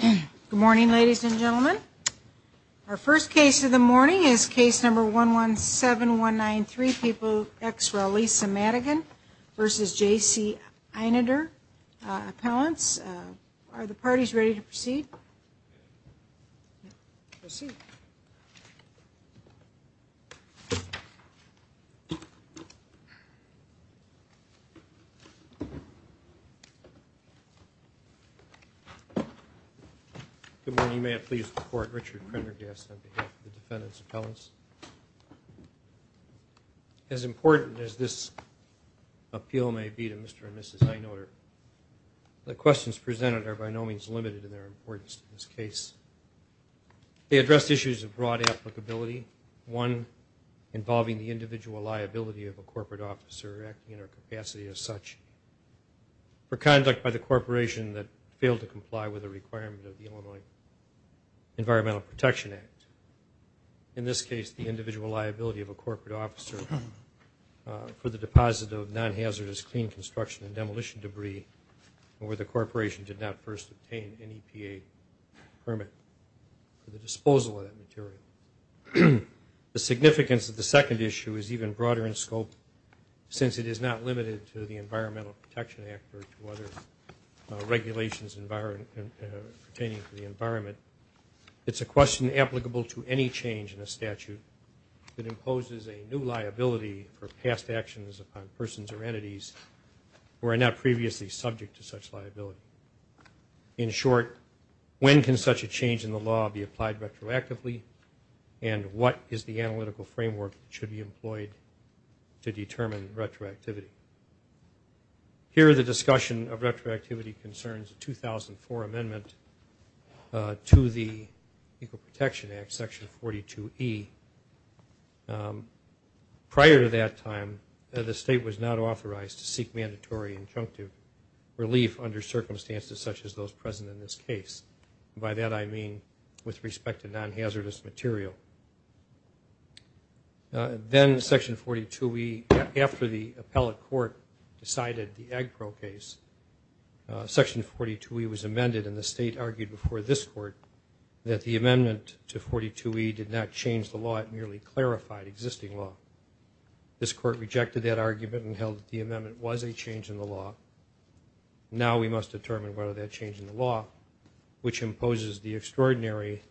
Good morning, ladies and gentlemen. Our first case of the morning is case number 117193, People x Rel, Lisa Madigan, versus J.C. Einoder, appellants. Are the parties ready to proceed? Good morning. May it please the court, Richard Krendergast on behalf of the defendants' appellants. As important as this appeal may be to Mr. and Mrs. Einoder, the questions presented are by no means limited in their importance to this case. They address issues of broad applicability, one involving the individual liability of a corporate officer acting in her capacity as such for conduct by the corporation that failed to comply with a requirement of the Illinois Environmental Protection Act. In this case, the individual liability of a corporate officer for the deposit of non-hazardous clean construction and demolition debris where the corporation did not first obtain an EPA permit for the disposal of that material. The significance of the second issue is even broader in scope since it is not limited to the Environmental Protection Act or to other regulations pertaining to the environment. It's a question applicable to any change in a statute that imposes a new liability for past actions upon persons or entities who are not previously subject to such liability. In short, when can such a change in the law be applied retroactively and what is the analytical framework that should be employed to determine retroactivity? Here, the discussion of retroactivity concerns a 2004 amendment to the Equal Protection Act, Section 42E. Prior to that time, the state was not authorized to seek mandatory injunctive relief under circumstances such as those present in this case. By that, I mean with respect to non-hazardous material. Then Section 42E, after the appellate court decided the Agpro case, Section 42E was amended and the state argued before this court that the amendment to 42E did not change the law, it merely clarified existing law. This court rejected that argument and held that the amendment was a change in the law. Now we must determine whether that change in the law, which imposes the extraordinary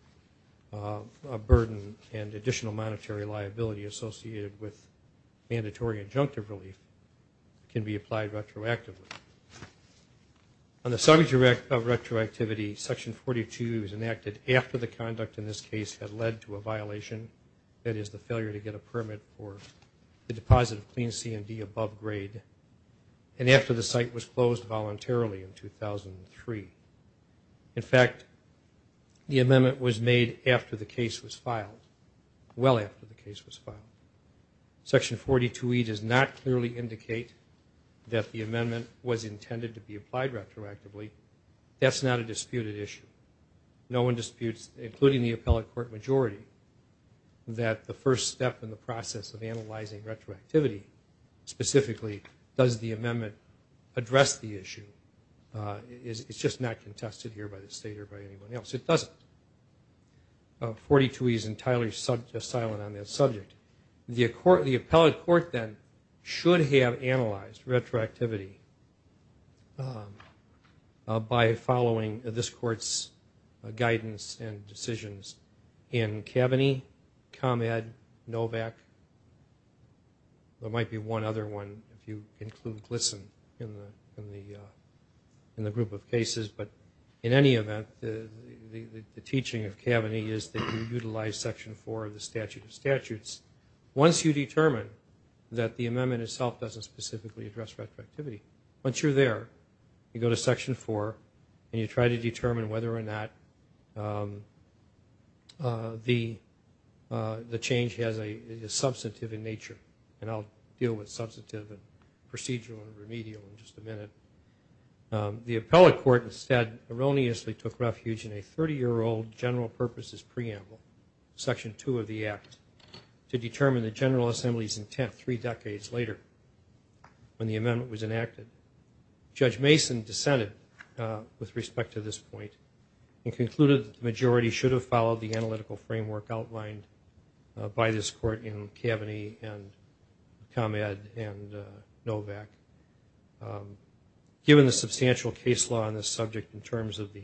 burden and additional monetary liability associated with mandatory injunctive relief, can be applied retroactively. On the subject of retroactivity, Section 42 was enacted after the conduct in this case had led to a violation, that is, the failure to get a permit for the deposit of clean C&D above grade. And after the site was closed voluntarily in 2003. In fact, the amendment was made after the case was filed, well after the case was filed. Section 42E does not clearly indicate that the amendment was intended to be applied retroactively. That's not a disputed issue. No one disputes, including the appellate court majority, that the first step in the process of analyzing retroactivity, specifically, does the amendment address the issue. It's just not contested here by the state or by anyone else. It doesn't. 42E is entirely silent on that subject. The appellate court then should have analyzed retroactivity by following this court's guidance and decisions in Kaveny, ComEd, Novak. There might be one other one if you include GLSEN in the group of cases. But in any event, the teaching of Kaveny is that you utilize Section 4 of the Statute of Statutes. Once you determine that the amendment itself doesn't specifically address retroactivity, once you're there, you go to Section 4, and you try to determine whether or not the change has a substantive in nature. And I'll deal with substantive and procedural and remedial in just a minute. The appellate court instead erroneously took refuge in a 30-year-old general purposes preamble, Section 2 of the Act, to determine the General Assembly's intent three decades later, when the amendment was enacted. And Judge Mason dissented with respect to this point and concluded that the majority should have followed the analytical framework outlined by this court in Kaveny and ComEd and Novak. Given the substantial case law on this subject in terms of the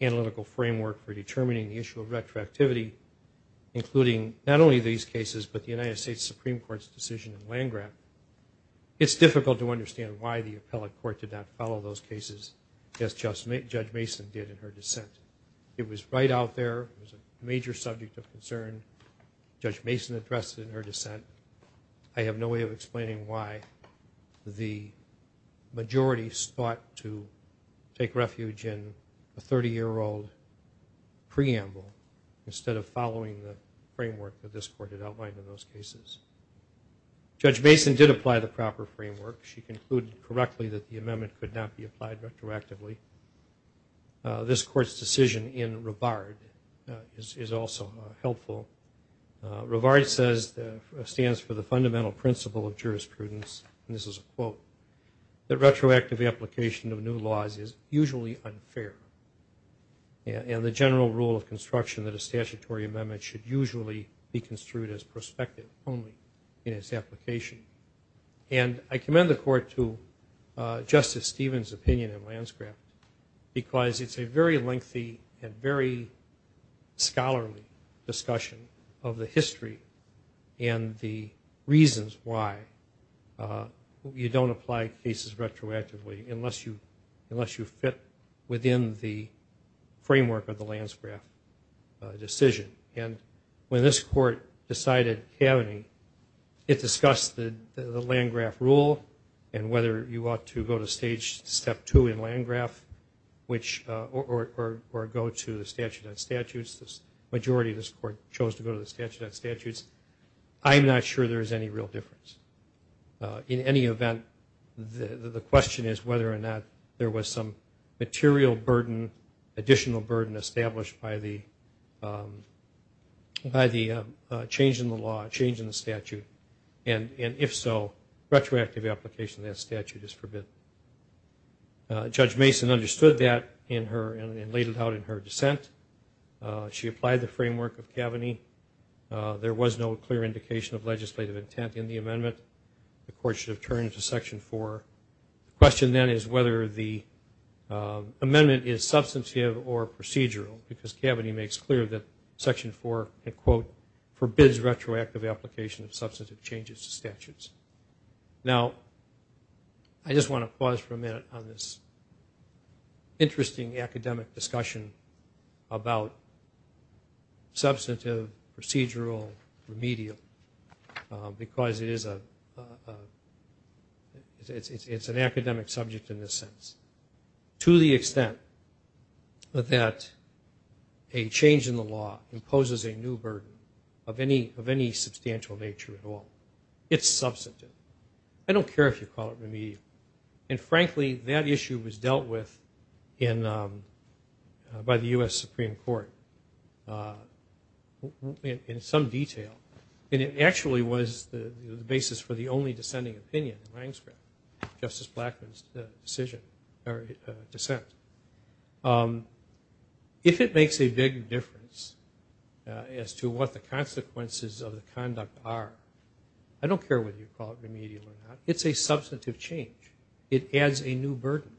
analytical framework for determining the issue of retroactivity, including not only these cases but the United States Supreme Court's decision in Landgraf, it's difficult to understand why the appellate court did not follow those cases as Judge Mason did in her dissent. It was right out there. It was a major subject of concern. Judge Mason addressed it in her dissent. I have no way of explaining why the majority sought to take refuge in a 30-year-old preamble instead of following the framework that this court had outlined in those cases. Judge Mason did apply the proper framework. She concluded correctly that the amendment could not be applied retroactively. This court's decision in Rivard is also helpful. Rivard says, stands for the fundamental principle of jurisprudence, and this is a quote, that retroactive application of new laws is usually unfair, and the general rule of construction that a statutory amendment should usually be construed as prospective only in its application. And I commend the court to Justice Stevens' opinion in Landgraf because it's a very lengthy and very scholarly discussion of the history and the reasons why you don't apply cases retroactively unless you fit within the framework of the Landgraf decision. And when this court decided Kaveny, it discussed the Landgraf rule and whether you ought to go to stage step two in Landgraf or go to the statute of statutes. The majority of this court chose to go to the statute of statutes. I'm not sure there is any real difference. In any event, the question is whether or not there was some material burden, additional burden established by the change in the law, change in the statute. And if so, retroactive application of that statute is forbidden. Judge Mason understood that and laid it out in her dissent. She applied the framework of Kaveny. There was no clear indication of legislative intent in the amendment. The court should have turned to Section 4. The question then is whether the amendment is substantive or procedural because Kaveny makes clear that Section 4, and quote, forbids retroactive application of substantive changes to statutes. Now, I just want to pause for a minute on this interesting academic discussion about substantive, procedural, remedial because it's an academic subject in this sense. To the extent that a change in the law imposes a new burden of any substantial nature at all, it's substantive. I don't care if you call it remedial. And frankly, that issue was dealt with by the U.S. Supreme Court in some detail. And it actually was the basis for the only dissenting opinion in Justice Blackmun's dissent. If it makes a big difference as to what the consequences of the conduct are, I don't care whether you call it remedial or not. It's a substantive change. It adds a new burden.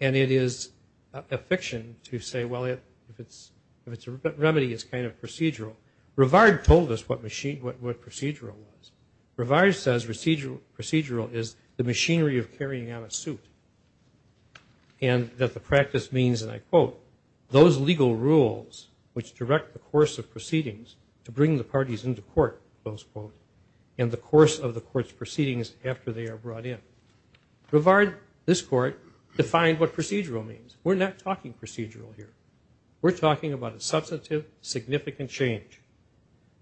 And it is a fiction to say, well, if it's a remedy, it's kind of procedural. Rivard told us what procedural was. Rivard says procedural is the machinery of carrying out a suit and that the practice means, and I quote, those legal rules which direct the course of proceedings to bring the parties into court, close quote, and the course of the court's proceedings after they are brought in. Rivard, this court, defined what procedural means. We're not talking procedural here. We're talking about a substantive, significant change.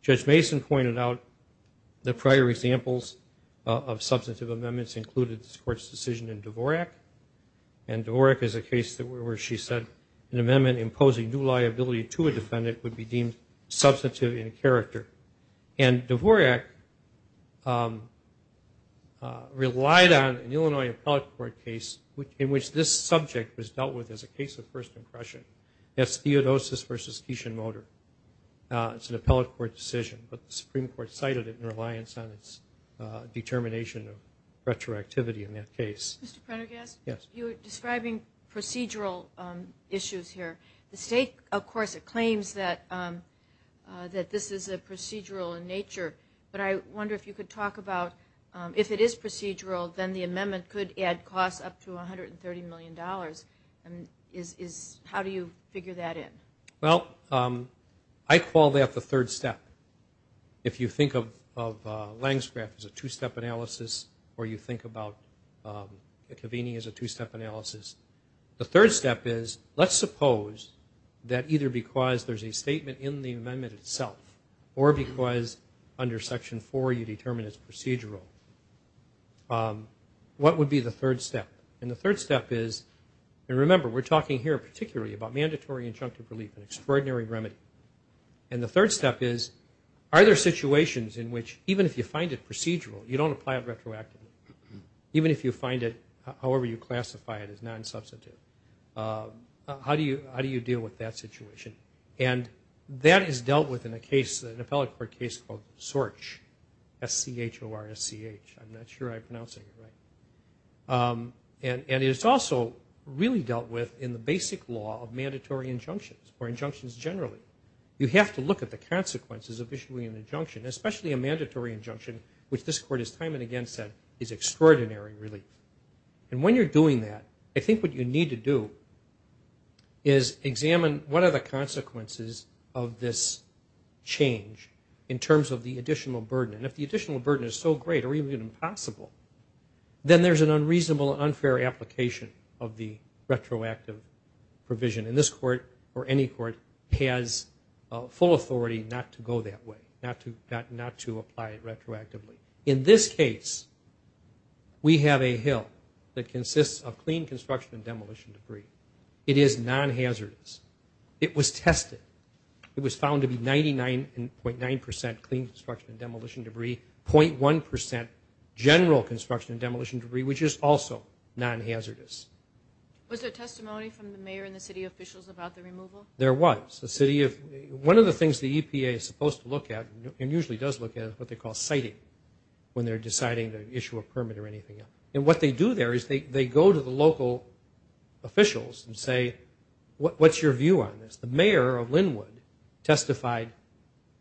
Judge Mason pointed out the prior examples of substantive amendments included this court's decision in Dvorak, and Dvorak is a case where she said an amendment imposing new liability to a defendant would be deemed substantive in character. And Dvorak relied on an Illinois Appellate Court case in which this subject was dealt with as a case of first impression. That's Theodosius v. Keishon-Motor. It's an Appellate Court decision, but the Supreme Court cited it in reliance on its determination of retroactivity in that case. Mr. Prendergast? Yes. You were describing procedural issues here. The state, of course, it claims that this is procedural in nature, but I wonder if you could talk about if it is procedural, then the amendment could add costs up to $130 million. How do you figure that in? Well, I call that the third step. If you think of Lansgraf as a two-step analysis or you think about McAveeny as a two-step analysis, the third step is let's suppose that either because there's a statement in the amendment itself or because under Section 4 you determine it's procedural, what would be the third step? And the third step is, and remember, we're talking here particularly about mandatory injunctive relief, an extraordinary remedy. And the third step is are there situations in which even if you find it procedural, you don't apply it retroactively, even if you find it however you classify it as non-substantive. How do you deal with that situation? And that is dealt with in a case, an Appellate Court case called SORCH, S-C-H-O-R-S-C-H. I'm not sure I'm pronouncing it right. And it's also really dealt with in the basic law of mandatory injunctions or injunctions generally. You have to look at the consequences of issuing an injunction, especially a mandatory injunction, which this Court has time and again said is extraordinary relief. And when you're doing that, I think what you need to do is examine what are the additional burden. And if the additional burden is so great or even impossible, then there's an unreasonable and unfair application of the retroactive provision. And this Court or any Court has full authority not to go that way, not to apply it retroactively. In this case, we have a hill that consists of clean construction and demolition debris. It is non-hazardous. It was tested. It was found to be 99.9% clean construction and demolition debris, 0.1% general construction and demolition debris, which is also non-hazardous. Was there testimony from the mayor and the city officials about the removal? There was. One of the things the EPA is supposed to look at and usually does look at is what they call citing when they're deciding to issue a permit or anything. And what they do there is they go to the local officials and say, what's your view on this? The mayor of Linwood testified,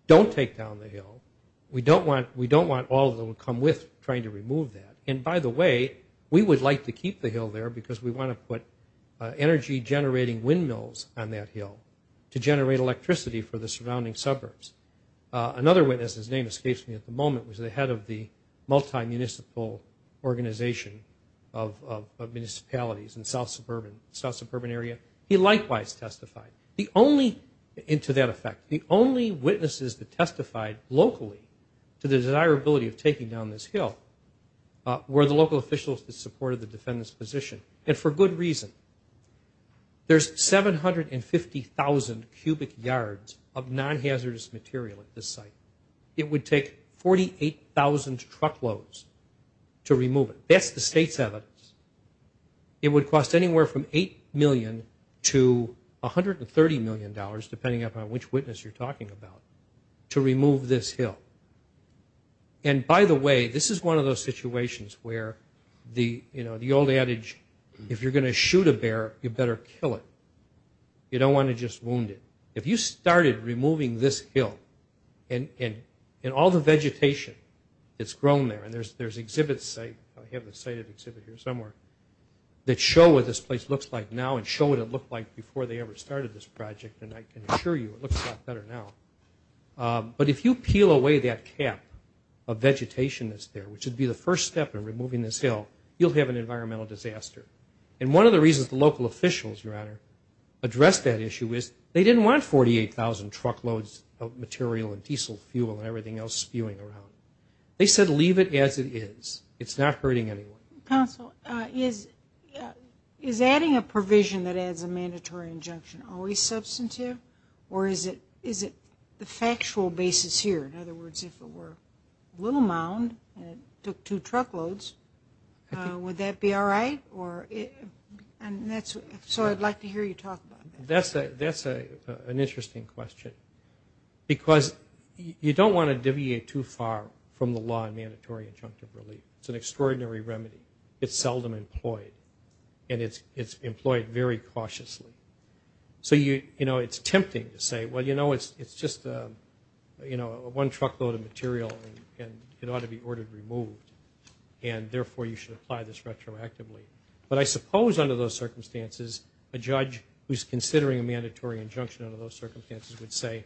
don't take down the hill. We don't want all of them to come with trying to remove that. And, by the way, we would like to keep the hill there because we want to put energy-generating windmills on that hill to generate electricity for the surrounding suburbs. Another witness, his name escapes me at the moment, was the head of the multi-municipal organization of municipalities in the south suburban area. He likewise testified. The only, and to that effect, the only witnesses that testified locally to the desirability of taking down this hill were the local officials that supported the defendant's position, and for good reason. There's 750,000 cubic yards of non-hazardous material at this site. It would take 48,000 truckloads to remove it. That's the state's evidence. It would cost anywhere from $8 million to $130 million, depending upon which witness you're talking about, to remove this hill. And, by the way, this is one of those situations where the old adage, if you're going to shoot a bear, you better kill it. You don't want to just wound it. If you started removing this hill and all the vegetation that's grown there, and there's exhibits, I have a sighted exhibit here somewhere, that show what this place looks like now and show what it looked like before they ever started this project, and I can assure you it looks a lot better now. But if you peel away that cap of vegetation that's there, which would be the first step in removing this hill, you'll have an environmental disaster. And one of the reasons the local officials, Your Honor, addressed that issue is they didn't want 48,000 truckloads of material and diesel fuel and everything else spewing around. They said leave it as it is. It's not hurting anyone. Counsel, is adding a provision that adds a mandatory injunction always substantive? Or is it the factual basis here? In other words, if it were a little mound and it took two truckloads, would that be all right? So I'd like to hear you talk about that. That's an interesting question. Because you don't want to deviate too far from the law in mandatory injunctive relief. It's an extraordinary remedy. It's seldom employed, and it's employed very cautiously. So, you know, it's tempting to say, well, you know, it's just one truckload of material and it ought to be ordered removed, and therefore you should apply this retroactively. But I suppose under those circumstances a judge who's considering a mandatory injunction under those circumstances would say,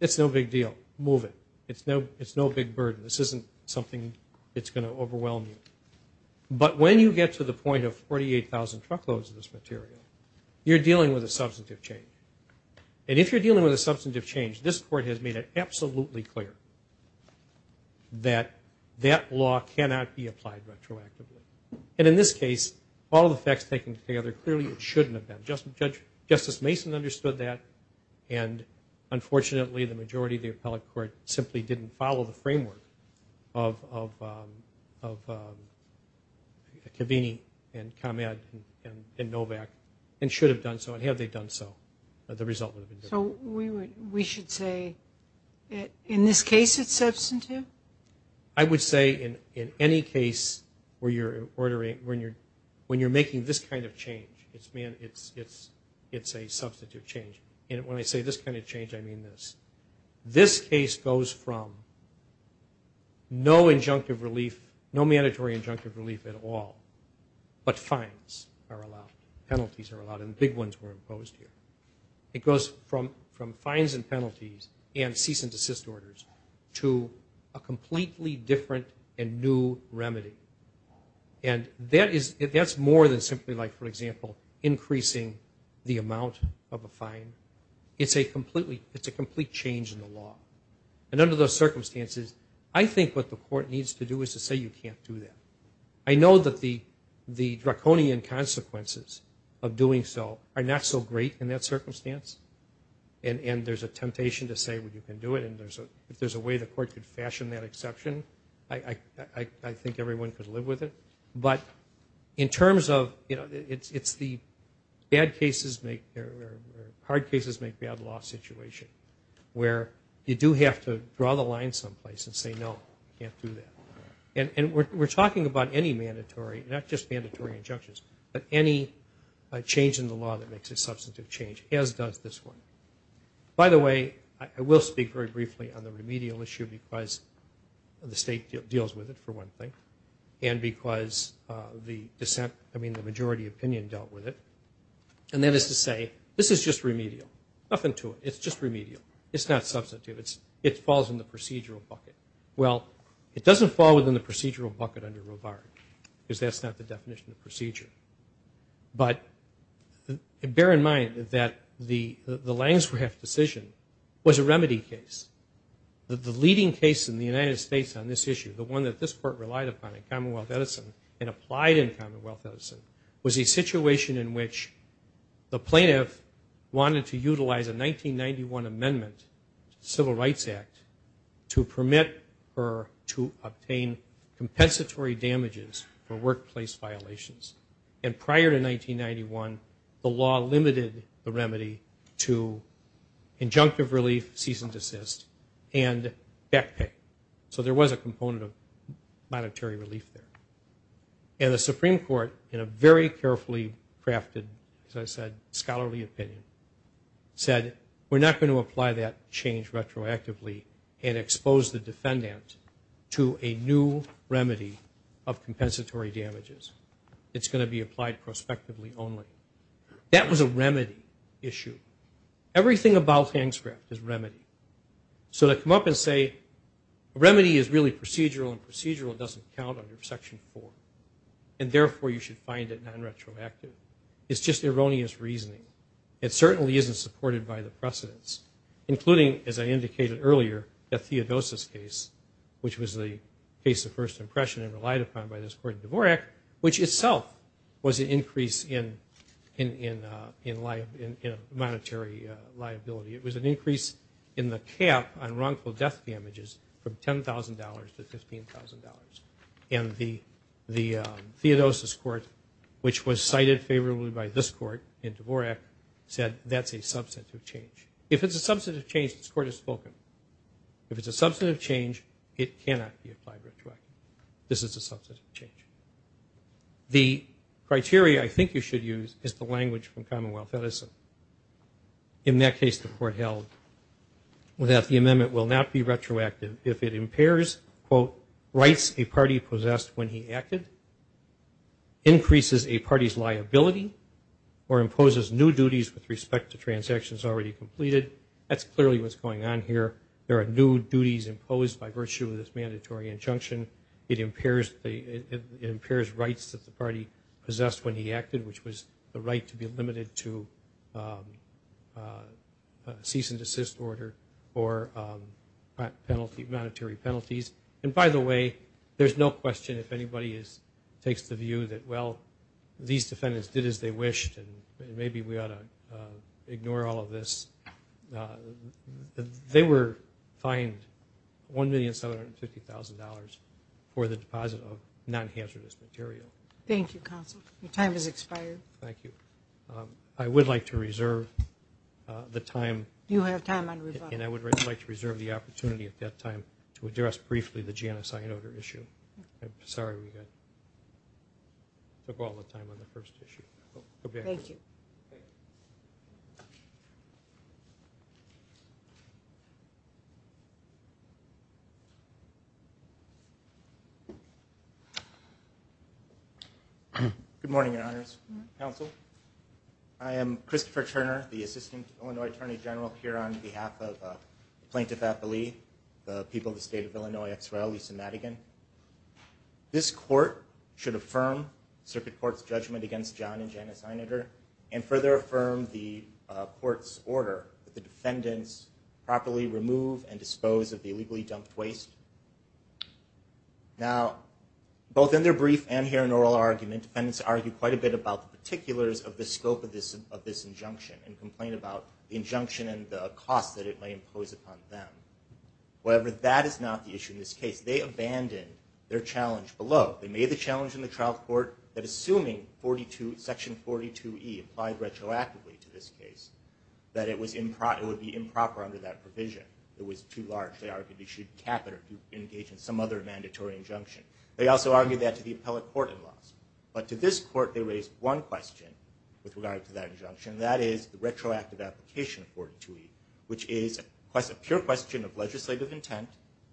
it's no big deal, move it. It's no big burden. This isn't something that's going to overwhelm you. But when you get to the point of 48,000 truckloads of this material, you're dealing with a substantive change. And if you're dealing with a substantive change, this Court has made it absolutely clear that that law cannot be applied retroactively. And in this case, all the facts taken together, clearly it shouldn't have been. Justice Mason understood that, and unfortunately the majority of the appellate court simply didn't follow the framework of Cavini and ComEd and Novak and should have done so and have they done so. The result would have been different. So we should say in this case it's substantive? I would say in any case where you're ordering, when you're making this kind of change, it's a substantive change. And when I say this kind of change, I mean this. This case goes from no injunctive relief, no mandatory injunctive relief at all, but fines are allowed, penalties are allowed, and big ones were imposed here. It goes from fines and penalties and cease and desist orders to a completely different and new remedy. And that's more than simply like, for example, increasing the amount of a fine. It's a complete change in the law. And under those circumstances, I think what the Court needs to do is to say you can't do that. I know that the draconian consequences of doing so are not so great in that circumstance, and there's a temptation to say you can do it. And if there's a way the Court could fashion that exception, I think everyone could live with it. But in terms of, you know, it's the hard cases make bad law situation, where you do have to draw the line someplace and say, no, you can't do that. And we're talking about any mandatory, not just mandatory injunctions, but any change in the law that makes a substantive change, as does this one. By the way, I will speak very briefly on the remedial issue because the State deals with it, for one thing, and because the dissent, I mean the majority opinion dealt with it. And that is to say, this is just remedial. Nothing to it. It's just remedial. It's not substantive. It falls in the procedural bucket. Well, it doesn't fall within the procedural bucket under Rovard, because that's not the definition of procedure. But bear in mind that the Lansgraf decision was a remedy case. The leading case in the United States on this issue, the one that this Court relied upon in Commonwealth Edison and applied in Commonwealth Edison, was a situation in which the plaintiff wanted to utilize a 1991 amendment, Civil Rights Act, to permit her to obtain compensatory damages for workplace violations. And prior to 1991, the law limited the remedy to injunctive relief, cease and desist, and back pay. So there was a component of monetary relief there. And the Supreme Court, in a very carefully crafted, as I said, scholarly opinion, said we're not going to apply that change retroactively and expose the defendant to a new remedy of compensatory damages. It's going to be applied prospectively only. That was a remedy issue. Everything about Lansgraf is remedy. So to come up and say a remedy is really procedural and procedural doesn't count under Section 4, and therefore you should find it non-retroactive, is just erroneous reasoning. It certainly isn't supported by the precedents, including, as I indicated earlier, the Theodosis case, which was the case of first impression and relied upon by this court in Dvorak, which itself was an increase in monetary liability. It was an increase in the cap on wrongful death damages from $10,000 to $15,000. And the Theodosis court, which was cited favorably by this court in Dvorak, said that's a substantive change. If it's a substantive change, this court has spoken. If it's a substantive change, it cannot be applied retroactively. This is a substantive change. The criteria I think you should use is the language from Commonwealth Edison. In that case, the court held that the amendment will not be retroactive if it impairs, quote, rights a party possessed when he acted, increases a party's liability, or imposes new duties with respect to transactions already completed. That's clearly what's going on here. There are new duties imposed by virtue of this mandatory injunction. It impairs rights that the party possessed when he acted, which was the right to be limited to cease and desist order or monetary penalties. And by the way, there's no question if anybody takes the view that, well, these defendants did as they wished and maybe we ought to ignore all of this. They were fined $1,750,000 for the deposit of non-hazardous material. Thank you, counsel. Your time has expired. Thank you. I would like to reserve the time. You have time on rebuttal. And I would like to reserve the opportunity at that time to address briefly the GNSI and odor issue. I'm sorry we took all the time on the first issue. Thank you. Okay. Good morning, Your Honors. Counsel. I am Christopher Turner, the Assistant Illinois Attorney General, here on behalf of Plaintiff Appellee, the people of the State of Illinois, as well, Lisa Madigan. This court should affirm Circuit Court's judgment against John and Janice Eineter and further affirm the court's order that the defendants properly remove and dispose of the illegally dumped waste. Now, both in their brief and here in oral argument, defendants argue quite a bit about the particulars of the scope of this injunction and complain about the injunction and the cost that it may impose upon them. However, that is not the issue in this case. They abandoned their challenge below. They made the challenge in the trial court that, assuming section 42E applied retroactively to this case, that it would be improper under that provision. It was too large. They argued they should cap it or engage in some other mandatory injunction. They also argued that to the appellate court-in-laws. But to this court, they raised one question with regard to that injunction, and that is the retroactive application of 42E, which is a pure question of legislative intent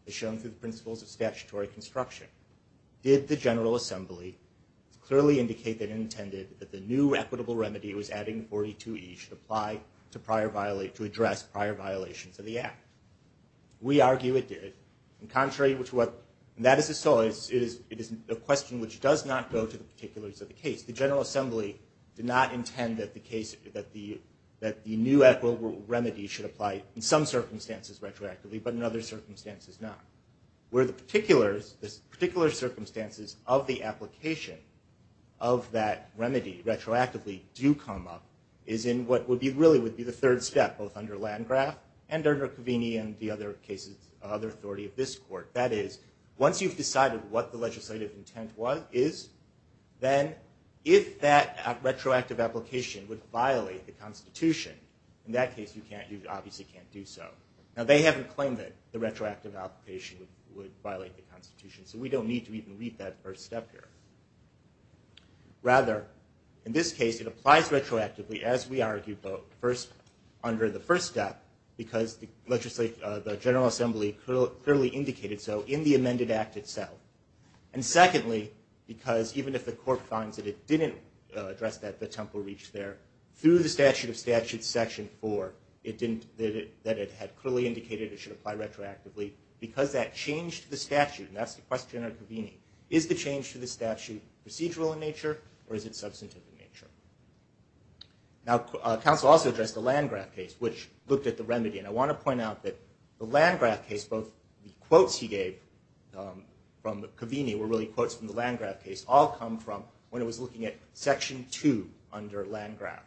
as shown through the principles of statutory construction. Did the General Assembly clearly indicate that it intended that the new equitable remedy it was adding to 42E should apply to address prior violations of the Act? We argue it did. In contrary to what Madison saw, it is a question which does not go to the particulars of the case. The General Assembly did not intend that the new equitable remedy should apply in some circumstances retroactively, but in other circumstances not. Where the particular circumstances of the application of that remedy retroactively do come up is in what really would be the third step, both under Landgraf and under Covini and the other authority of this court. That is, once you've decided what the legislative intent is, then if that retroactive application would violate the Constitution, in that case you obviously can't do so. Now, they haven't claimed that the retroactive application would violate the Constitution, so we don't need to even read that first step here. Rather, in this case, it applies retroactively, as we argue, under the first step because the General Assembly clearly indicated so in the amended Act itself. And secondly, because even if the court finds that it didn't address that, through the statute of statutes section 4, that it had clearly indicated it should apply retroactively, because that changed the statute, and that's the question under Covini, is the change to the statute procedural in nature or is it substantive in nature? Now, counsel also addressed the Landgraf case, which looked at the remedy. And I want to point out that the Landgraf case, both the quotes he gave from Covini were really quotes from the Landgraf case, which all come from when it was looking at section 2 under Landgraf.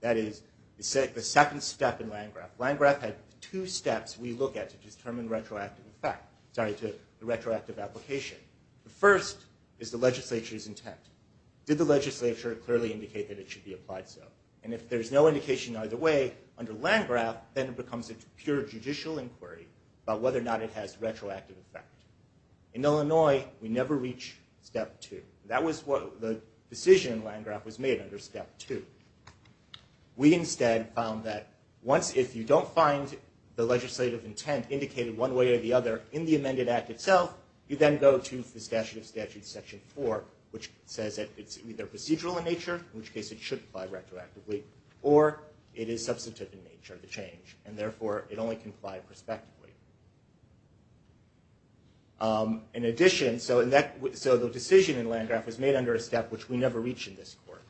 That is, the second step in Landgraf. Landgraf had two steps we look at to determine retroactive effect, sorry, to the retroactive application. The first is the legislature's intent. Did the legislature clearly indicate that it should be applied so? And if there's no indication either way, under Landgraf, then it becomes a pure judicial inquiry about whether or not it has retroactive effect. In Illinois, we never reach step 2. That was what the decision in Landgraf was made under step 2. We instead found that once if you don't find the legislative intent indicated one way or the other in the amended act itself, you then go to the statute of statutes section 4, which says that it's either procedural in nature, in which case it should apply retroactively, or it is substantive in nature to change, and therefore it only can apply prospectively. In addition, so the decision in Landgraf was made under a step which we never reach in this court.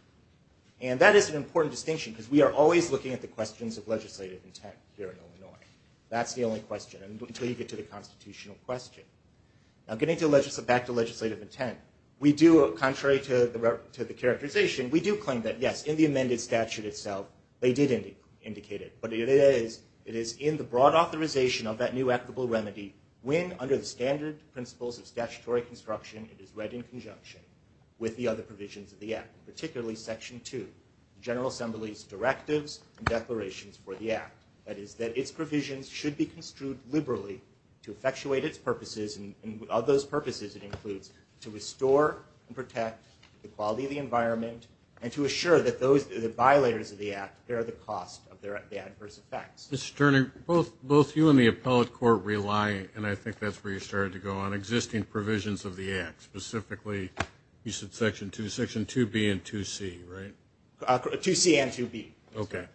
And that is an important distinction, because we are always looking at the questions of legislative intent here in Illinois. That's the only question, until you get to the constitutional question. Now getting back to legislative intent, we do, contrary to the characterization, we do claim that, yes, in the amended statute itself, they did indicate it. But it is in the broad authorization of that new applicable remedy when under the standard principles of statutory construction it is read in conjunction with the other provisions of the act, particularly section 2, general assembly's directives and declarations for the act. That is that its provisions should be construed liberally to effectuate its purposes, and of those purposes it includes to restore and protect the quality of the environment and to assure that the violators of the act bear the cost of the adverse effects. Mr. Turner, both you and the appellate court rely, and I think that's where you started to go, on existing provisions of the act, specifically you said section 2, section 2B and 2C, right? 2C and 2B. Okay.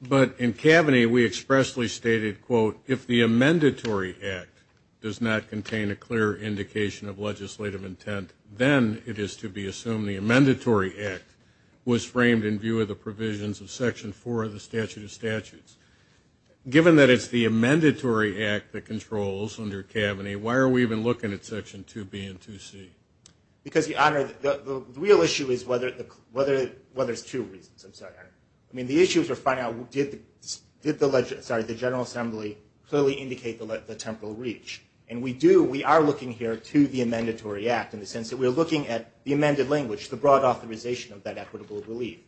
But in Kaveny we expressly stated, quote, if the amendatory act does not contain a clear indication of legislative intent, then it is to be assumed the amendatory act was framed in view of the provisions of section 4 of the statute of statutes. Given that it's the amendatory act that controls under Kaveny, why are we even looking at section 2B and 2C? Because, Your Honor, the real issue is whether there's two reasons. I'm sorry. I mean, the issue is we're finding out did the general assembly clearly indicate the temporal reach. And we do, we are looking here to the amendatory act in the sense that we're looking at the amended language, the broad authorization of that equitable relief.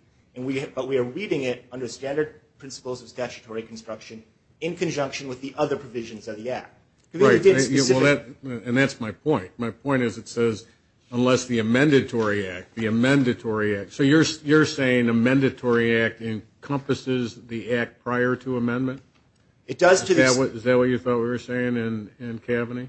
But we are reading it under standard principles of statutory construction in conjunction with the other provisions of the act. Right. And that's my point. My point is it says unless the amendatory act, the amendatory act. So you're saying the amendatory act encompasses the act prior to amendment? Is that what you thought we were saying in Kaveny?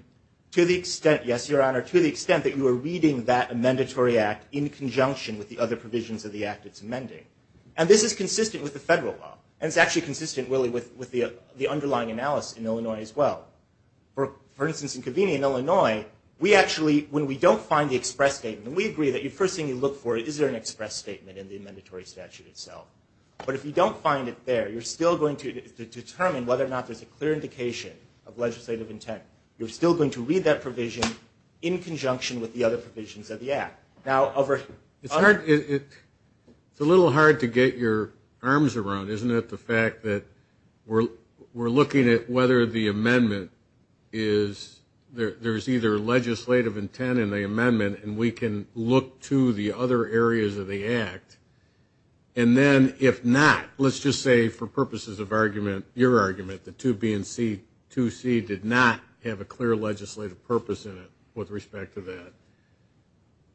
To the extent, yes, Your Honor, to the extent that you are reading that amendatory act in conjunction with the other provisions of the act it's amending. And this is consistent with the federal law. And it's actually consistent, really, with the underlying analysis in Illinois as well. For instance, in Kaveny in Illinois, we actually when we don't find the express statement, and we agree that the first thing you look for is there an express statement in the amendatory statute itself. But if you don't find it there, you're still going to determine whether or not there's a clear indication of legislative intent. You're still going to read that provision in conjunction with the other provisions of the act. It's a little hard to get your arms around, isn't it, the fact that we're looking at whether the amendment is, there's either legislative intent in the amendment, and we can look to the other areas of the act. And then if not, let's just say for purposes of argument, your argument, if the 2B and 2C did not have a clear legislative purpose in it with respect to that,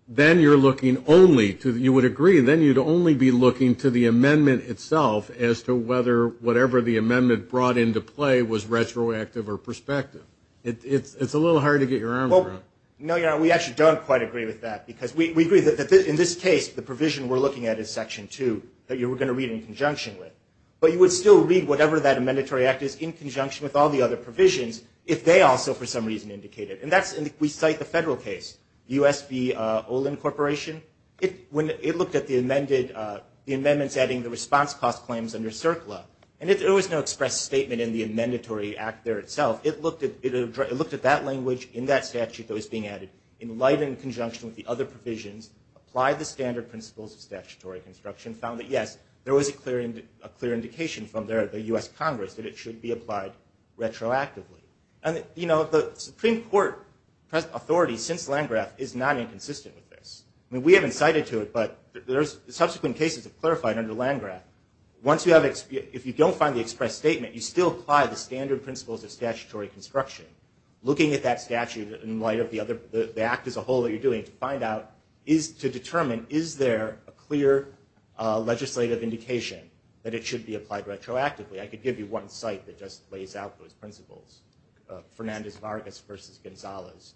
then you're looking only to, you would agree, then you'd only be looking to the amendment itself as to whether whatever the amendment brought into play was retroactive or prospective. It's a little hard to get your arms around. No, we actually don't quite agree with that because we agree that in this case the provision we're looking at is Section 2 that you were going to read in conjunction with. But you would still read whatever that amendatory act is in conjunction with all the other provisions if they also for some reason indicate it. And that's, we cite the federal case, U.S.V. Olin Corporation. It looked at the amendments adding the response cost claims under CERCLA. And there was no expressed statement in the amendatory act there itself. It looked at that language in that statute that was being added in light in conjunction with the other provisions, applied the standard principles of statutory construction, and found that, yes, there was a clear indication from the U.S. Congress that it should be applied retroactively. And, you know, the Supreme Court authority since Landgraf is not inconsistent with this. I mean, we haven't cited to it, but there's subsequent cases of clarifying under Landgraf. Once you have, if you don't find the expressed statement, you still apply the standard principles of statutory construction. Looking at that statute in light of the act as a whole that you're doing to find out is to determine is there a clear legislative indication that it should be applied retroactively. I could give you one site that just lays out those principles. Fernandez-Vargas v. Gonzalez,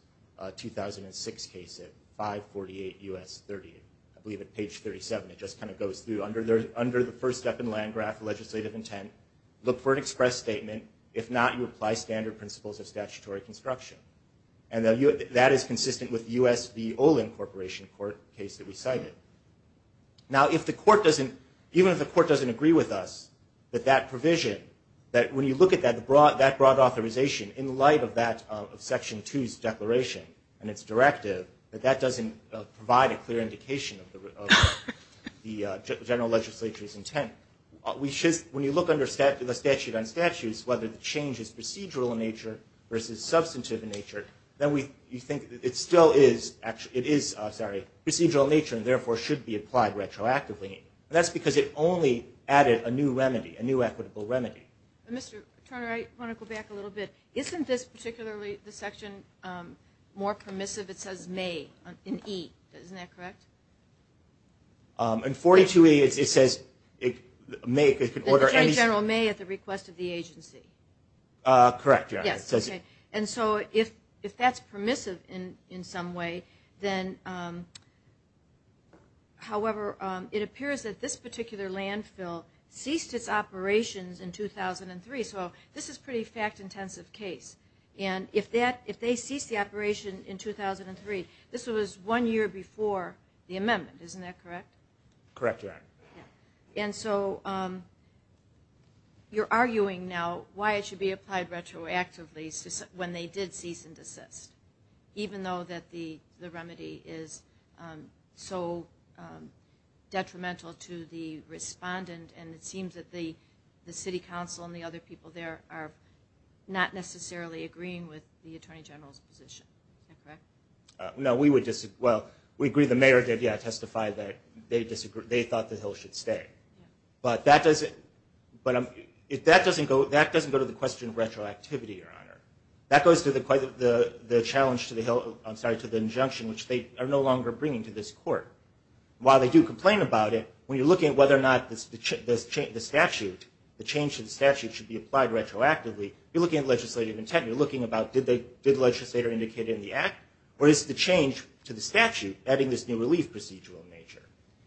2006 case at 548 U.S. 30, I believe at page 37. It just kind of goes through. Under the first step in Landgraf legislative intent, look for an expressed statement. If not, you apply standard principles of statutory construction. And that is consistent with the U.S. v. Olin Corporation court case that we cited. Now, if the court doesn't, even if the court doesn't agree with us, that that provision, that when you look at that, that broad authorization in light of that Section 2's declaration and its directive, that that doesn't provide a clear indication of the general legislature's intent. When you look under the statute on statutes, whether the change is procedural in nature versus substantive in nature, then you think it still is procedural in nature and, therefore, should be applied retroactively. And that's because it only added a new remedy, a new equitable remedy. Mr. Turner, I want to go back a little bit. Isn't this particularly, the section, more permissive? It says may in E. Isn't that correct? In 42A, it says may. The Attorney General may at the request of the agency. Correct, yes. And so if that's permissive in some way, then, however, it appears that this particular landfill ceased its operations in 2003. So this is a pretty fact-intensive case. And if they ceased the operation in 2003, this was one year before the amendment. Isn't that correct? Correct, yes. And so you're arguing now why it should be applied retroactively when they did cease and desist, even though that the remedy is so detrimental to the respondent and it seems that the city council and the other people there are not necessarily agreeing with the Attorney General's position. Is that correct? No, we would disagree. Well, we agree the mayor did, yes, testify that they disagreed. That the hill should stay. But that doesn't go to the question of retroactivity, Your Honor. That goes to the challenge to the injunction, which they are no longer bringing to this court. While they do complain about it, when you're looking at whether or not the change to the statute should be applied retroactively, you're looking at legislative intent. You're looking about did the legislator indicate it in the act, or is the change to the statute adding this new relief procedural nature?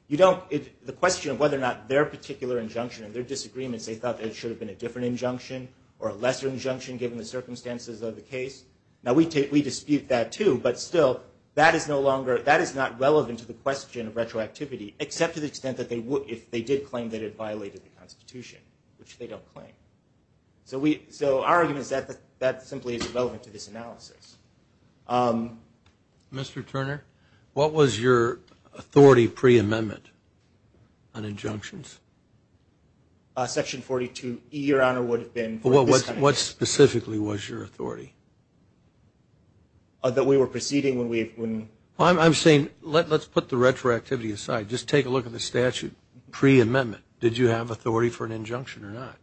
The question of whether or not their particular injunction and their disagreements, they thought that it should have been a different injunction or a lesser injunction given the circumstances of the case. Now, we dispute that, too. But still, that is not relevant to the question of retroactivity, except to the extent that they did claim that it violated the Constitution, which they don't claim. So our argument is that that simply is relevant to this analysis. Mr. Turner, what was your authority pre-amendment on injunctions? Section 42E, Your Honor, would have been. What specifically was your authority? That we were proceeding when we... I'm saying let's put the retroactivity aside. Just take a look at the statute pre-amendment. Did you have authority for an injunction or not?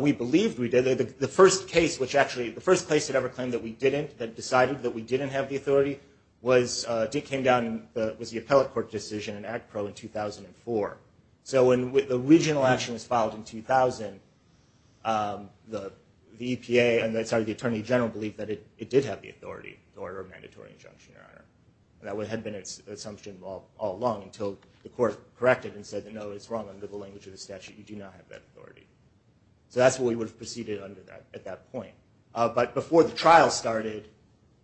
We believed we did. The first case, which actually... The first case that ever claimed that we didn't, that decided that we didn't have the authority, came down with the appellate court decision in Act Pro in 2004. So when the original action was filed in 2000, the EPA and the Attorney General believed that it did have the authority to order a mandatory injunction, Your Honor. That had been its assumption all along until the court corrected and said, no, it's wrong. Under the language of the statute, you do not have that authority. So that's what we would have proceeded under at that point. But before the trial started,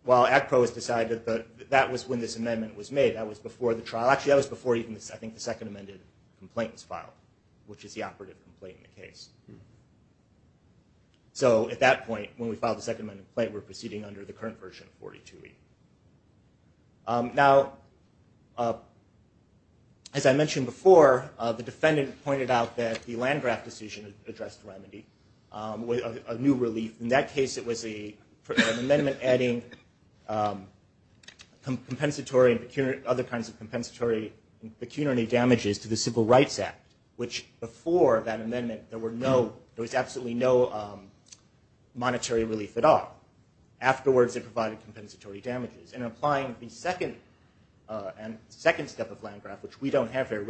while Act Pro has decided that that was when this amendment was made, that was before the trial... Actually, that was before even, I think, the second amended complaint was filed, which is the operative complaint in the case. So at that point, when we filed the second amended complaint, we were proceeding under the current version of 42E. Now, as I mentioned before, the defendant pointed out that the Landgraf decision addressed remedy, a new relief. In that case, it was an amendment adding other kinds of compensatory and pecuniary damages to the Civil Rights Act, which before that amendment, there was absolutely no monetary relief at all. Afterwards, it provided compensatory damages. In applying the second step of Landgraf, which we don't have here,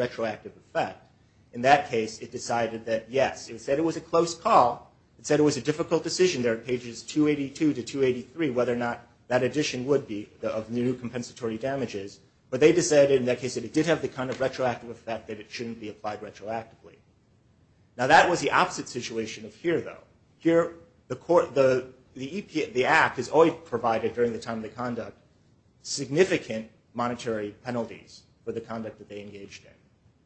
In that case, it decided that yes. It said it was a close call. It said it was a difficult decision. There are pages 282 to 283, whether or not that addition would be of new compensatory damages. But they decided in that case that it did have the kind of retroactive effect that it shouldn't be applied retroactively. Now, that was the opposite situation of here, though. Here, the Act has only provided, during the time of the conduct, significant monetary penalties for the conduct that they engaged in.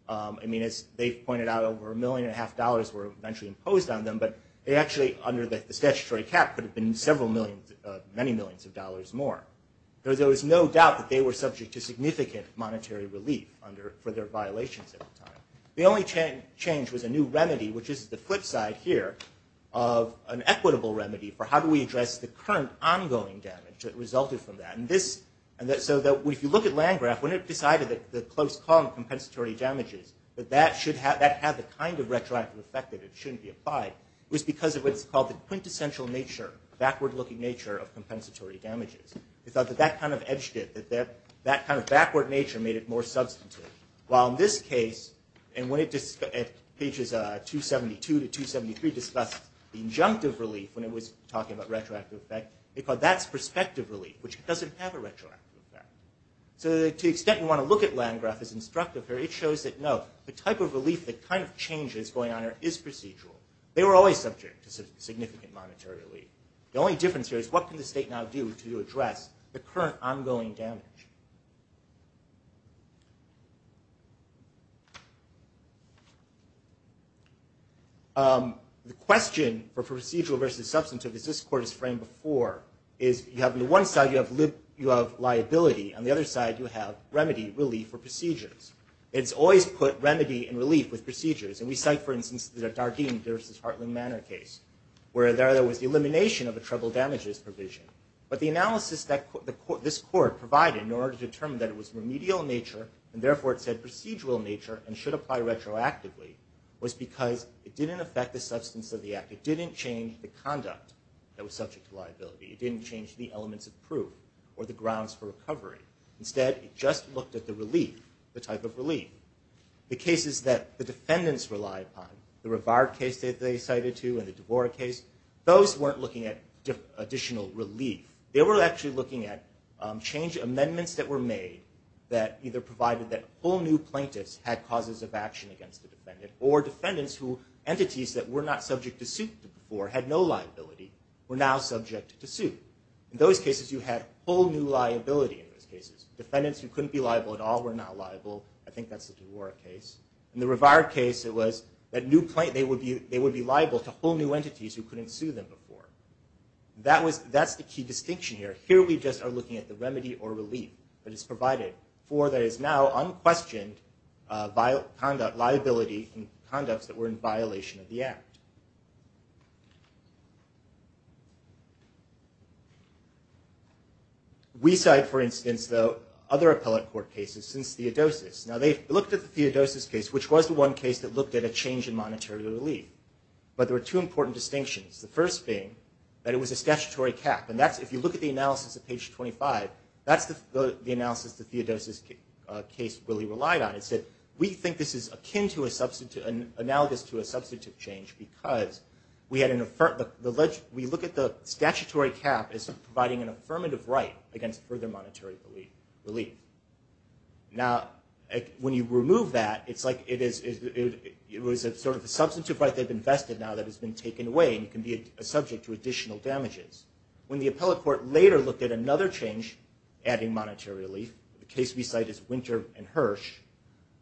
I mean, as they pointed out, over a million and a half dollars were eventually imposed on them, but they actually, under the statutory cap, would have been several millions, many millions of dollars more. There was no doubt that they were subject to significant monetary relief for their violations at the time. The only change was a new remedy, which is the flip side here, of an equitable remedy for how do we address the current ongoing damage that resulted from that. So if you look at Landgraf, when it decided that the close call on compensatory damages, that that had the kind of retroactive effect that it shouldn't be applied, it was because of what's called the quintessential nature, backward-looking nature, of compensatory damages. It thought that that kind of edged it, that that kind of backward nature made it more substantive. While in this case, and when pages 272 to 273 discussed the injunctive relief when it was talking about retroactive effect, it thought that's prospective relief, which doesn't have a retroactive effect. So to the extent you want to look at Landgraf as instructive here, it shows that no, the type of relief, the kind of change that's going on here is procedural. They were always subject to significant monetary relief. The only difference here is what can the state now do to address the current ongoing damage? The question for procedural versus substantive, as this court has framed before, is you have on the one side, you have liability. On the other side, you have remedy, relief, or procedures. It's always put remedy and relief with procedures. And we cite, for instance, the Dardeen v. Hartland Manor case, where there was the elimination of a treble damages provision. But the analysis that this court provided in order to determine that it was remedial in nature, and therefore it said procedural in nature and should apply retroactively, was because it didn't affect the substance of the act. It didn't change the conduct that was subject to liability. It didn't change the elements of proof or the grounds for recovery. Instead, it just looked at the relief, the type of relief. The cases that the defendants relied upon, the Rivard case that they cited to and the Dvorak case, those weren't looking at additional relief. They were actually looking at amendments that were made that either provided that whole new plaintiffs had causes of action against the defendant or defendants who entities that were not subject to suit before had no liability were now subject to suit. In those cases, you had whole new liability in those cases. Defendants who couldn't be liable at all were not liable. I think that's the Dvorak case. In the Rivard case, it was that they would be liable to whole new entities who couldn't sue them before. That's the key distinction here. Here we just are looking at the remedy or relief that is provided for that is now unquestioned liability in conducts that were in violation of the act. We cite, for instance, though, other appellate court cases since Theodosius. They looked at the Theodosius case, which was the one case that looked at a change in monetary relief. But there were two important distinctions, the first being that it was a statutory cap. If you look at the analysis at page 25, that's the analysis that Theodosius' case really relied on. It said, we think this is analogous to a substantive change because we look at the statutory cap as providing an affirmative right against further monetary relief. Now, when you remove that, it's like it was sort of a substantive right that had been vested now that has been taken away and can be a subject to additional damages. When the appellate court later looked at another change adding monetary relief, the case we cite is Winter and Hirsch,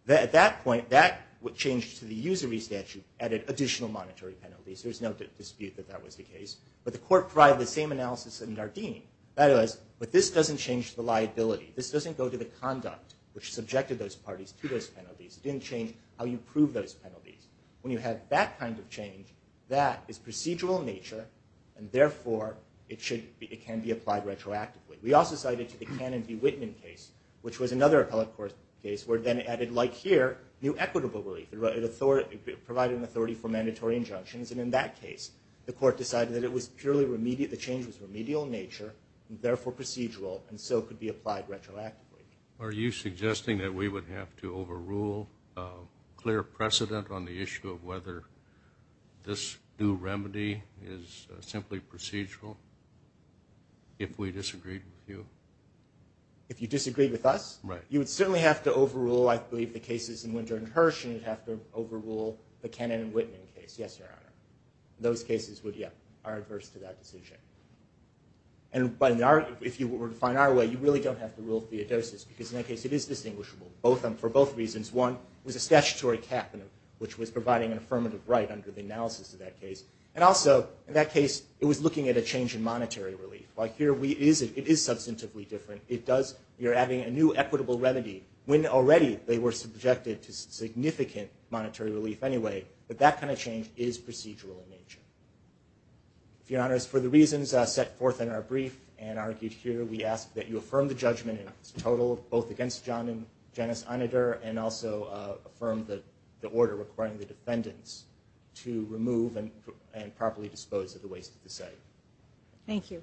at that point, that changed to the usury statute added additional monetary penalties. There's no dispute that that was the case. But the court provided the same analysis in Dardeen. That is, but this doesn't change the liability. This doesn't go to the conduct which subjected those parties to those penalties. It didn't change how you prove those penalties. When you have that kind of change, that is procedural in nature and, therefore, it can be applied retroactively. We also cited the Cannon v. Whitman case, which was another appellate court case, where it then added, like here, new equitable relief. It provided an authority for mandatory injunctions. And in that case, the court decided that it was purely remedial. The change was remedial in nature and, therefore, procedural, and so could be applied retroactively. Are you suggesting that we would have to overrule a clear precedent on the issue of whether this new remedy is simply procedural if we disagreed with you? If you disagreed with us? Right. You would certainly have to overrule, I believe, the cases in Winter and Hirsch, and you'd have to overrule the Cannon v. Whitman case, yes, Your Honor. Those cases are adverse to that decision. And if you were to find our way, you really don't have to rule Theodosius, because in that case it is distinguishable for both reasons. One, it was a statutory cap, which was providing an affirmative right under the analysis of that case. And also, in that case, it was looking at a change in monetary relief. Like here, it is substantively different. You're adding a new equitable remedy when already they were subjected to significant monetary relief anyway. But that kind of change is procedural in nature. Your Honors, for the reasons set forth in our brief and argued here, we ask that you affirm the judgment in its total both against John and Janice Anader and also affirm the order requiring the defendants to remove and properly dispose of the waste at the site. Thank you.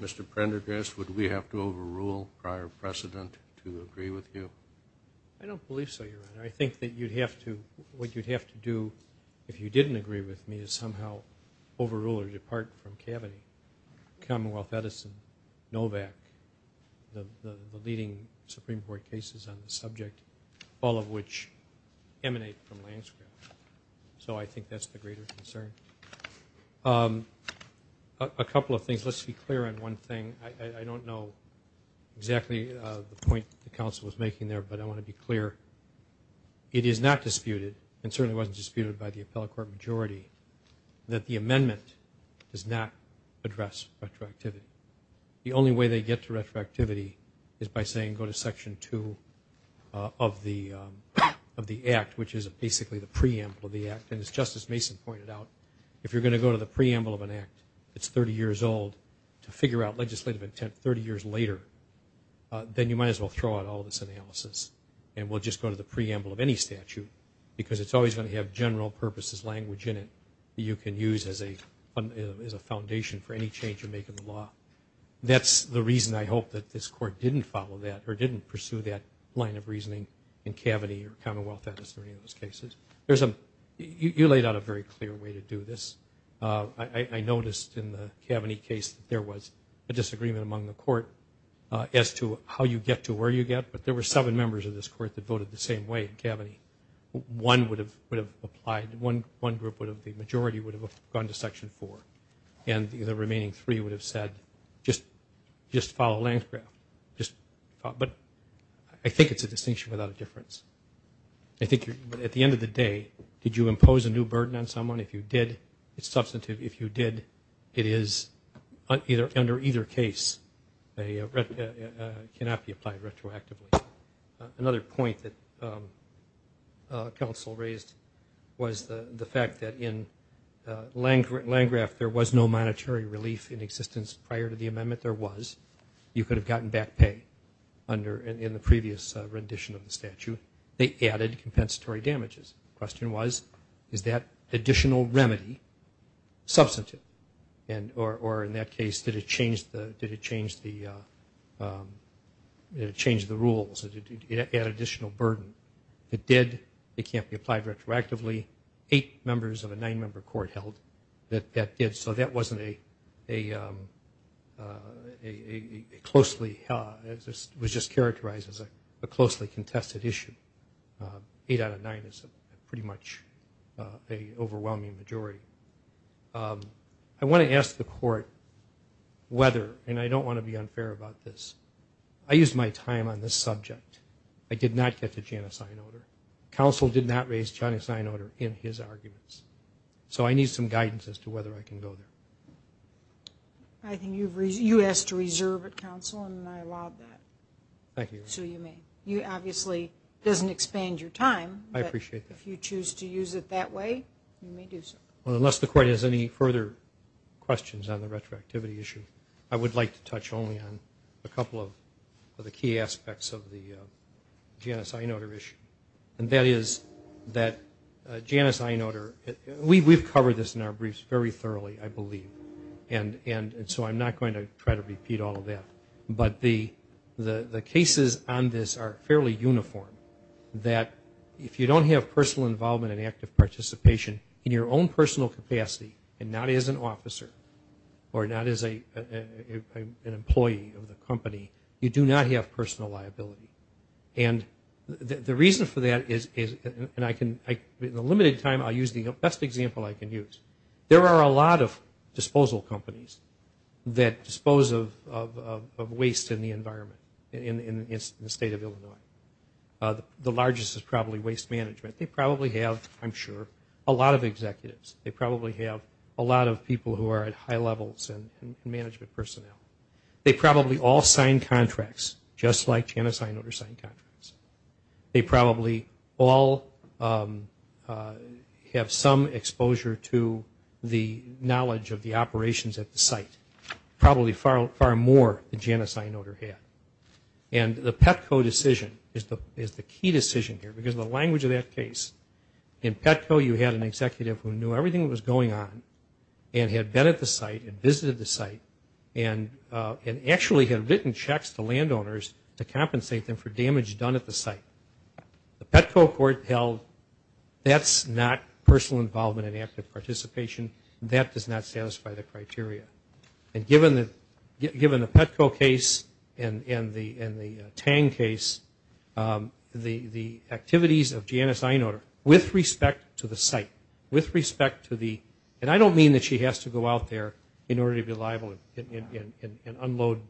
Mr. Prendergast, would we have to overrule prior precedent to agree with you? I don't believe so, Your Honor. I think that what you'd have to do, if you didn't agree with me, is somehow overrule or depart from Kaveny, Commonwealth, Edison, Novak, the leading Supreme Court cases on the subject, all of which emanate from landscape. So I think that's the greater concern. A couple of things. Let's be clear on one thing. I don't know exactly the point the counsel was making there, but I want to be clear. It is not disputed, and certainly wasn't disputed by the appellate court majority, that the amendment does not address retroactivity. The only way they get to retroactivity is by saying go to Section 2 of the Act, which is basically the preamble of the Act. And as Justice Mason pointed out, if you're going to go to the preamble of an Act that's 30 years old to figure out legislative intent 30 years later, then you might as well throw out all this analysis and we'll just go to the preamble of any statute, because it's always going to have general purposes language in it that you can use as a foundation for any change you make in the law. That's the reason I hope that this Court didn't follow that or didn't pursue that line of reasoning in Kaveny or Commonwealth, as in any of those cases. You laid out a very clear way to do this. I noticed in the Kaveny case that there was a disagreement among the Court as to how you get to where you get, but there were seven members of this Court that voted the same way in Kaveny. One would have applied, one group, the majority would have gone to Section 4, and the remaining three would have said just follow Lange's graph. But I think it's a distinction without a difference. I think at the end of the day, did you impose a new burden on someone? If you did, it's substantive. If you did, it is under either case. It cannot be applied retroactively. Another point that counsel raised was the fact that in Lange's graph, there was no monetary relief in existence prior to the amendment. There was. You could have gotten back pay in the previous rendition of the statute. They added compensatory damages. The question was, is that additional remedy substantive? Or in that case, did it change the rules? Did it add additional burden? It did. It can't be applied retroactively. Eight members of a nine-member Court held that that did. So that wasn't a closely – it was just characterized as a closely contested issue. Eight out of nine is pretty much an overwhelming majority. I want to ask the Court whether – and I don't want to be unfair about this. I used my time on this subject. I did not get to Janice Einoder. Counsel did not raise Janice Einoder in his arguments. So I need some guidance as to whether I can go there. I think you asked to reserve at counsel, and I allowed that. Thank you. So you may. Obviously, it doesn't expand your time. I appreciate that. If you choose to use it that way, you may do so. Unless the Court has any further questions on the retroactivity issue, I would like to touch only on a couple of the key aspects of the Janice Einoder issue. And that is that Janice Einoder – we've covered this in our briefs very thoroughly, I believe. And so I'm not going to try to repeat all of that. But the cases on this are fairly uniform, that if you don't have personal involvement and active participation in your own personal capacity and not as an officer or not as an employee of the company, you do not have personal liability. And the reason for that is – and in the limited time, I'll use the best example I can use. There are a lot of disposal companies that dispose of waste in the environment in the state of Illinois. The largest is probably waste management. They probably have, I'm sure, a lot of executives. They probably have a lot of people who are at high levels in management personnel. They probably all sign contracts just like Janice Einoder signed contracts. They probably all have some exposure to the knowledge of the operations at the site, probably far more than Janice Einoder had. And the Petco decision is the key decision here because of the language of that case. In Petco, you had an executive who knew everything that was going on and had been at the site and visited the site and actually had written checks to landowners to compensate them for damage done at the site. The Petco court held that's not personal involvement and active participation. That does not satisfy the criteria. And given the Petco case and the Tang case, the activities of Janice Einoder, with respect to the site, with respect to the – and I don't mean that she has to go out there in order to be liable and unload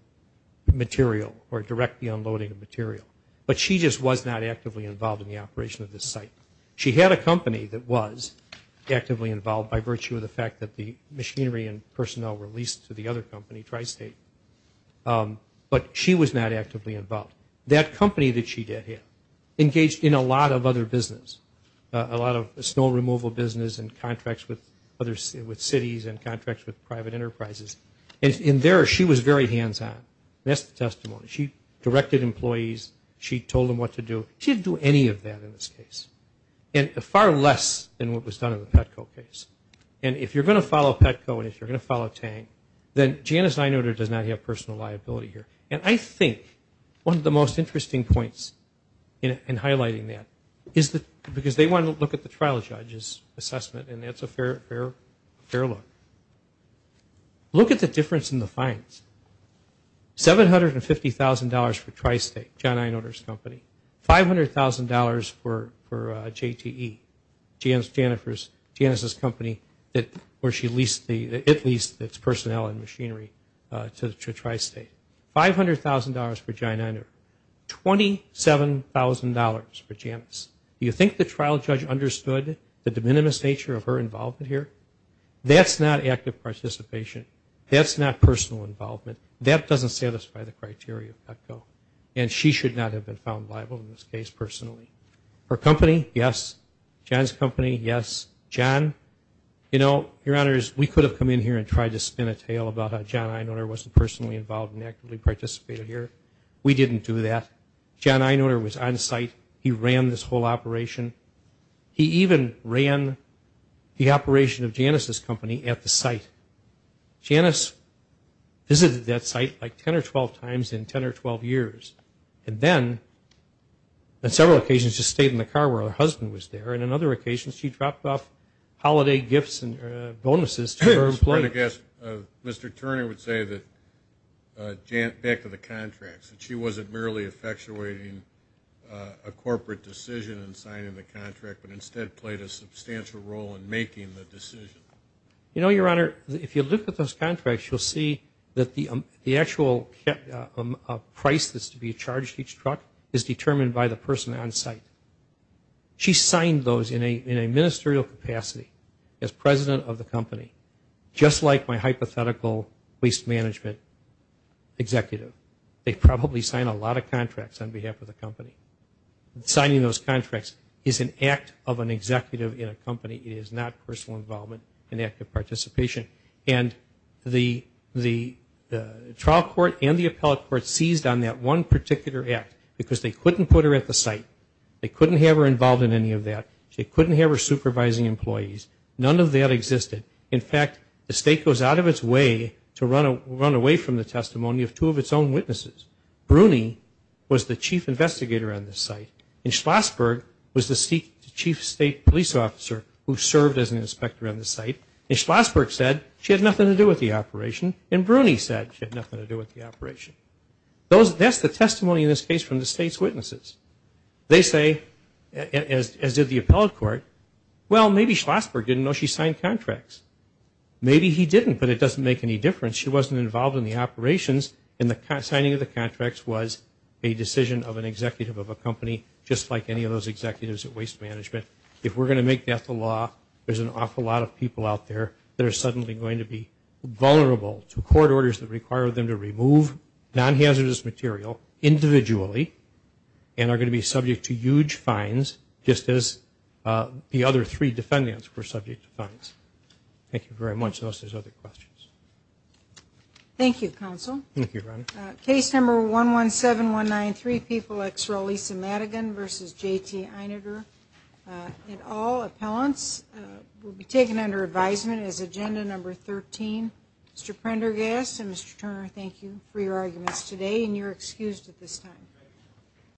material or directly unloading material. But she just was not actively involved in the operation of this site. She had a company that was actively involved by virtue of the fact that the machinery and personnel were leased to the other company, Tri-State. But she was not actively involved. That company that she did have engaged in a lot of other business, a lot of snow removal business and contracts with cities and contracts with private enterprises. And there she was very hands-on. That's the testimony. She directed employees. She told them what to do. She didn't do any of that in this case, far less than what was done in the Petco case. And if you're going to follow Petco and if you're going to follow Tang, then Janice Einoder does not have personal liability here. And I think one of the most interesting points in highlighting that is that – because they want to look at the trial judge's assessment, and that's a fair look. Look at the difference in the fines. $750,000 for Tri-State, John Einoder's company. $500,000 for JTE, Janice's company where she leased the – it leased its personnel and machinery to Tri-State. $500,000 for John Einoder, $27,000 for Janice. Do you think the trial judge understood the de minimis nature of her involvement here? That's not active participation. That's not personal involvement. That doesn't satisfy the criteria of Petco. And she should not have been found liable in this case personally. Her company, yes. John's company, yes. John, you know, Your Honors, we could have come in here and tried to spin a tale about how John Einoder wasn't personally involved and actively participated here. We didn't do that. John Einoder was on site. He ran this whole operation. He even ran the operation of Janice's company at the site. Janice visited that site like 10 or 12 times in 10 or 12 years. And then, on several occasions, just stayed in the car where her husband was there. And on other occasions, she dropped off holiday gifts and bonuses to her employees. Mr. Turner would say that back to the contracts, that she wasn't merely effectuating a corporate decision in signing the contract but instead played a substantial role in making the decision. You know, Your Honor, if you look at those contracts, you'll see that the actual price that's to be charged each truck is determined by the person on site. She signed those in a ministerial capacity as president of the company, just like my hypothetical waste management executive. They probably sign a lot of contracts on behalf of the company. Signing those contracts is an act of an executive in a company. It is not personal involvement, an act of participation. And the trial court and the appellate court seized on that one particular act because they couldn't put her at the site. They couldn't have her involved in any of that. They couldn't have her supervising employees. None of that existed. In fact, the state goes out of its way to run away from the testimony of two of its own witnesses. Bruni was the chief investigator on the site, and Schlossberg was the chief state police officer who served as an inspector on the site. And Schlossberg said she had nothing to do with the operation, and Bruni said she had nothing to do with the operation. That's the testimony in this case from the state's witnesses. They say, as did the appellate court, well, maybe Schlossberg didn't know she signed contracts. Maybe he didn't, but it doesn't make any difference. She wasn't involved in the operations, and the signing of the contracts was a decision of an executive of a company, just like any of those executives at waste management. If we're going to make that the law, there's an awful lot of people out there that are suddenly going to be vulnerable to court orders that require them to remove non-hazardous material individually and are going to be subject to huge fines, just as the other three defendants were subject to fines. Thank you very much. Unless there's other questions. Thank you, Counsel. Thank you, Ronnie. Case number 117193, People ex Rolisa Madigan v. J.T. Eineter. And all appellants will be taken under advisement as agenda number 13. Mr. Prendergast and Mr. Turner, thank you for your arguments today, and you're excused at this time.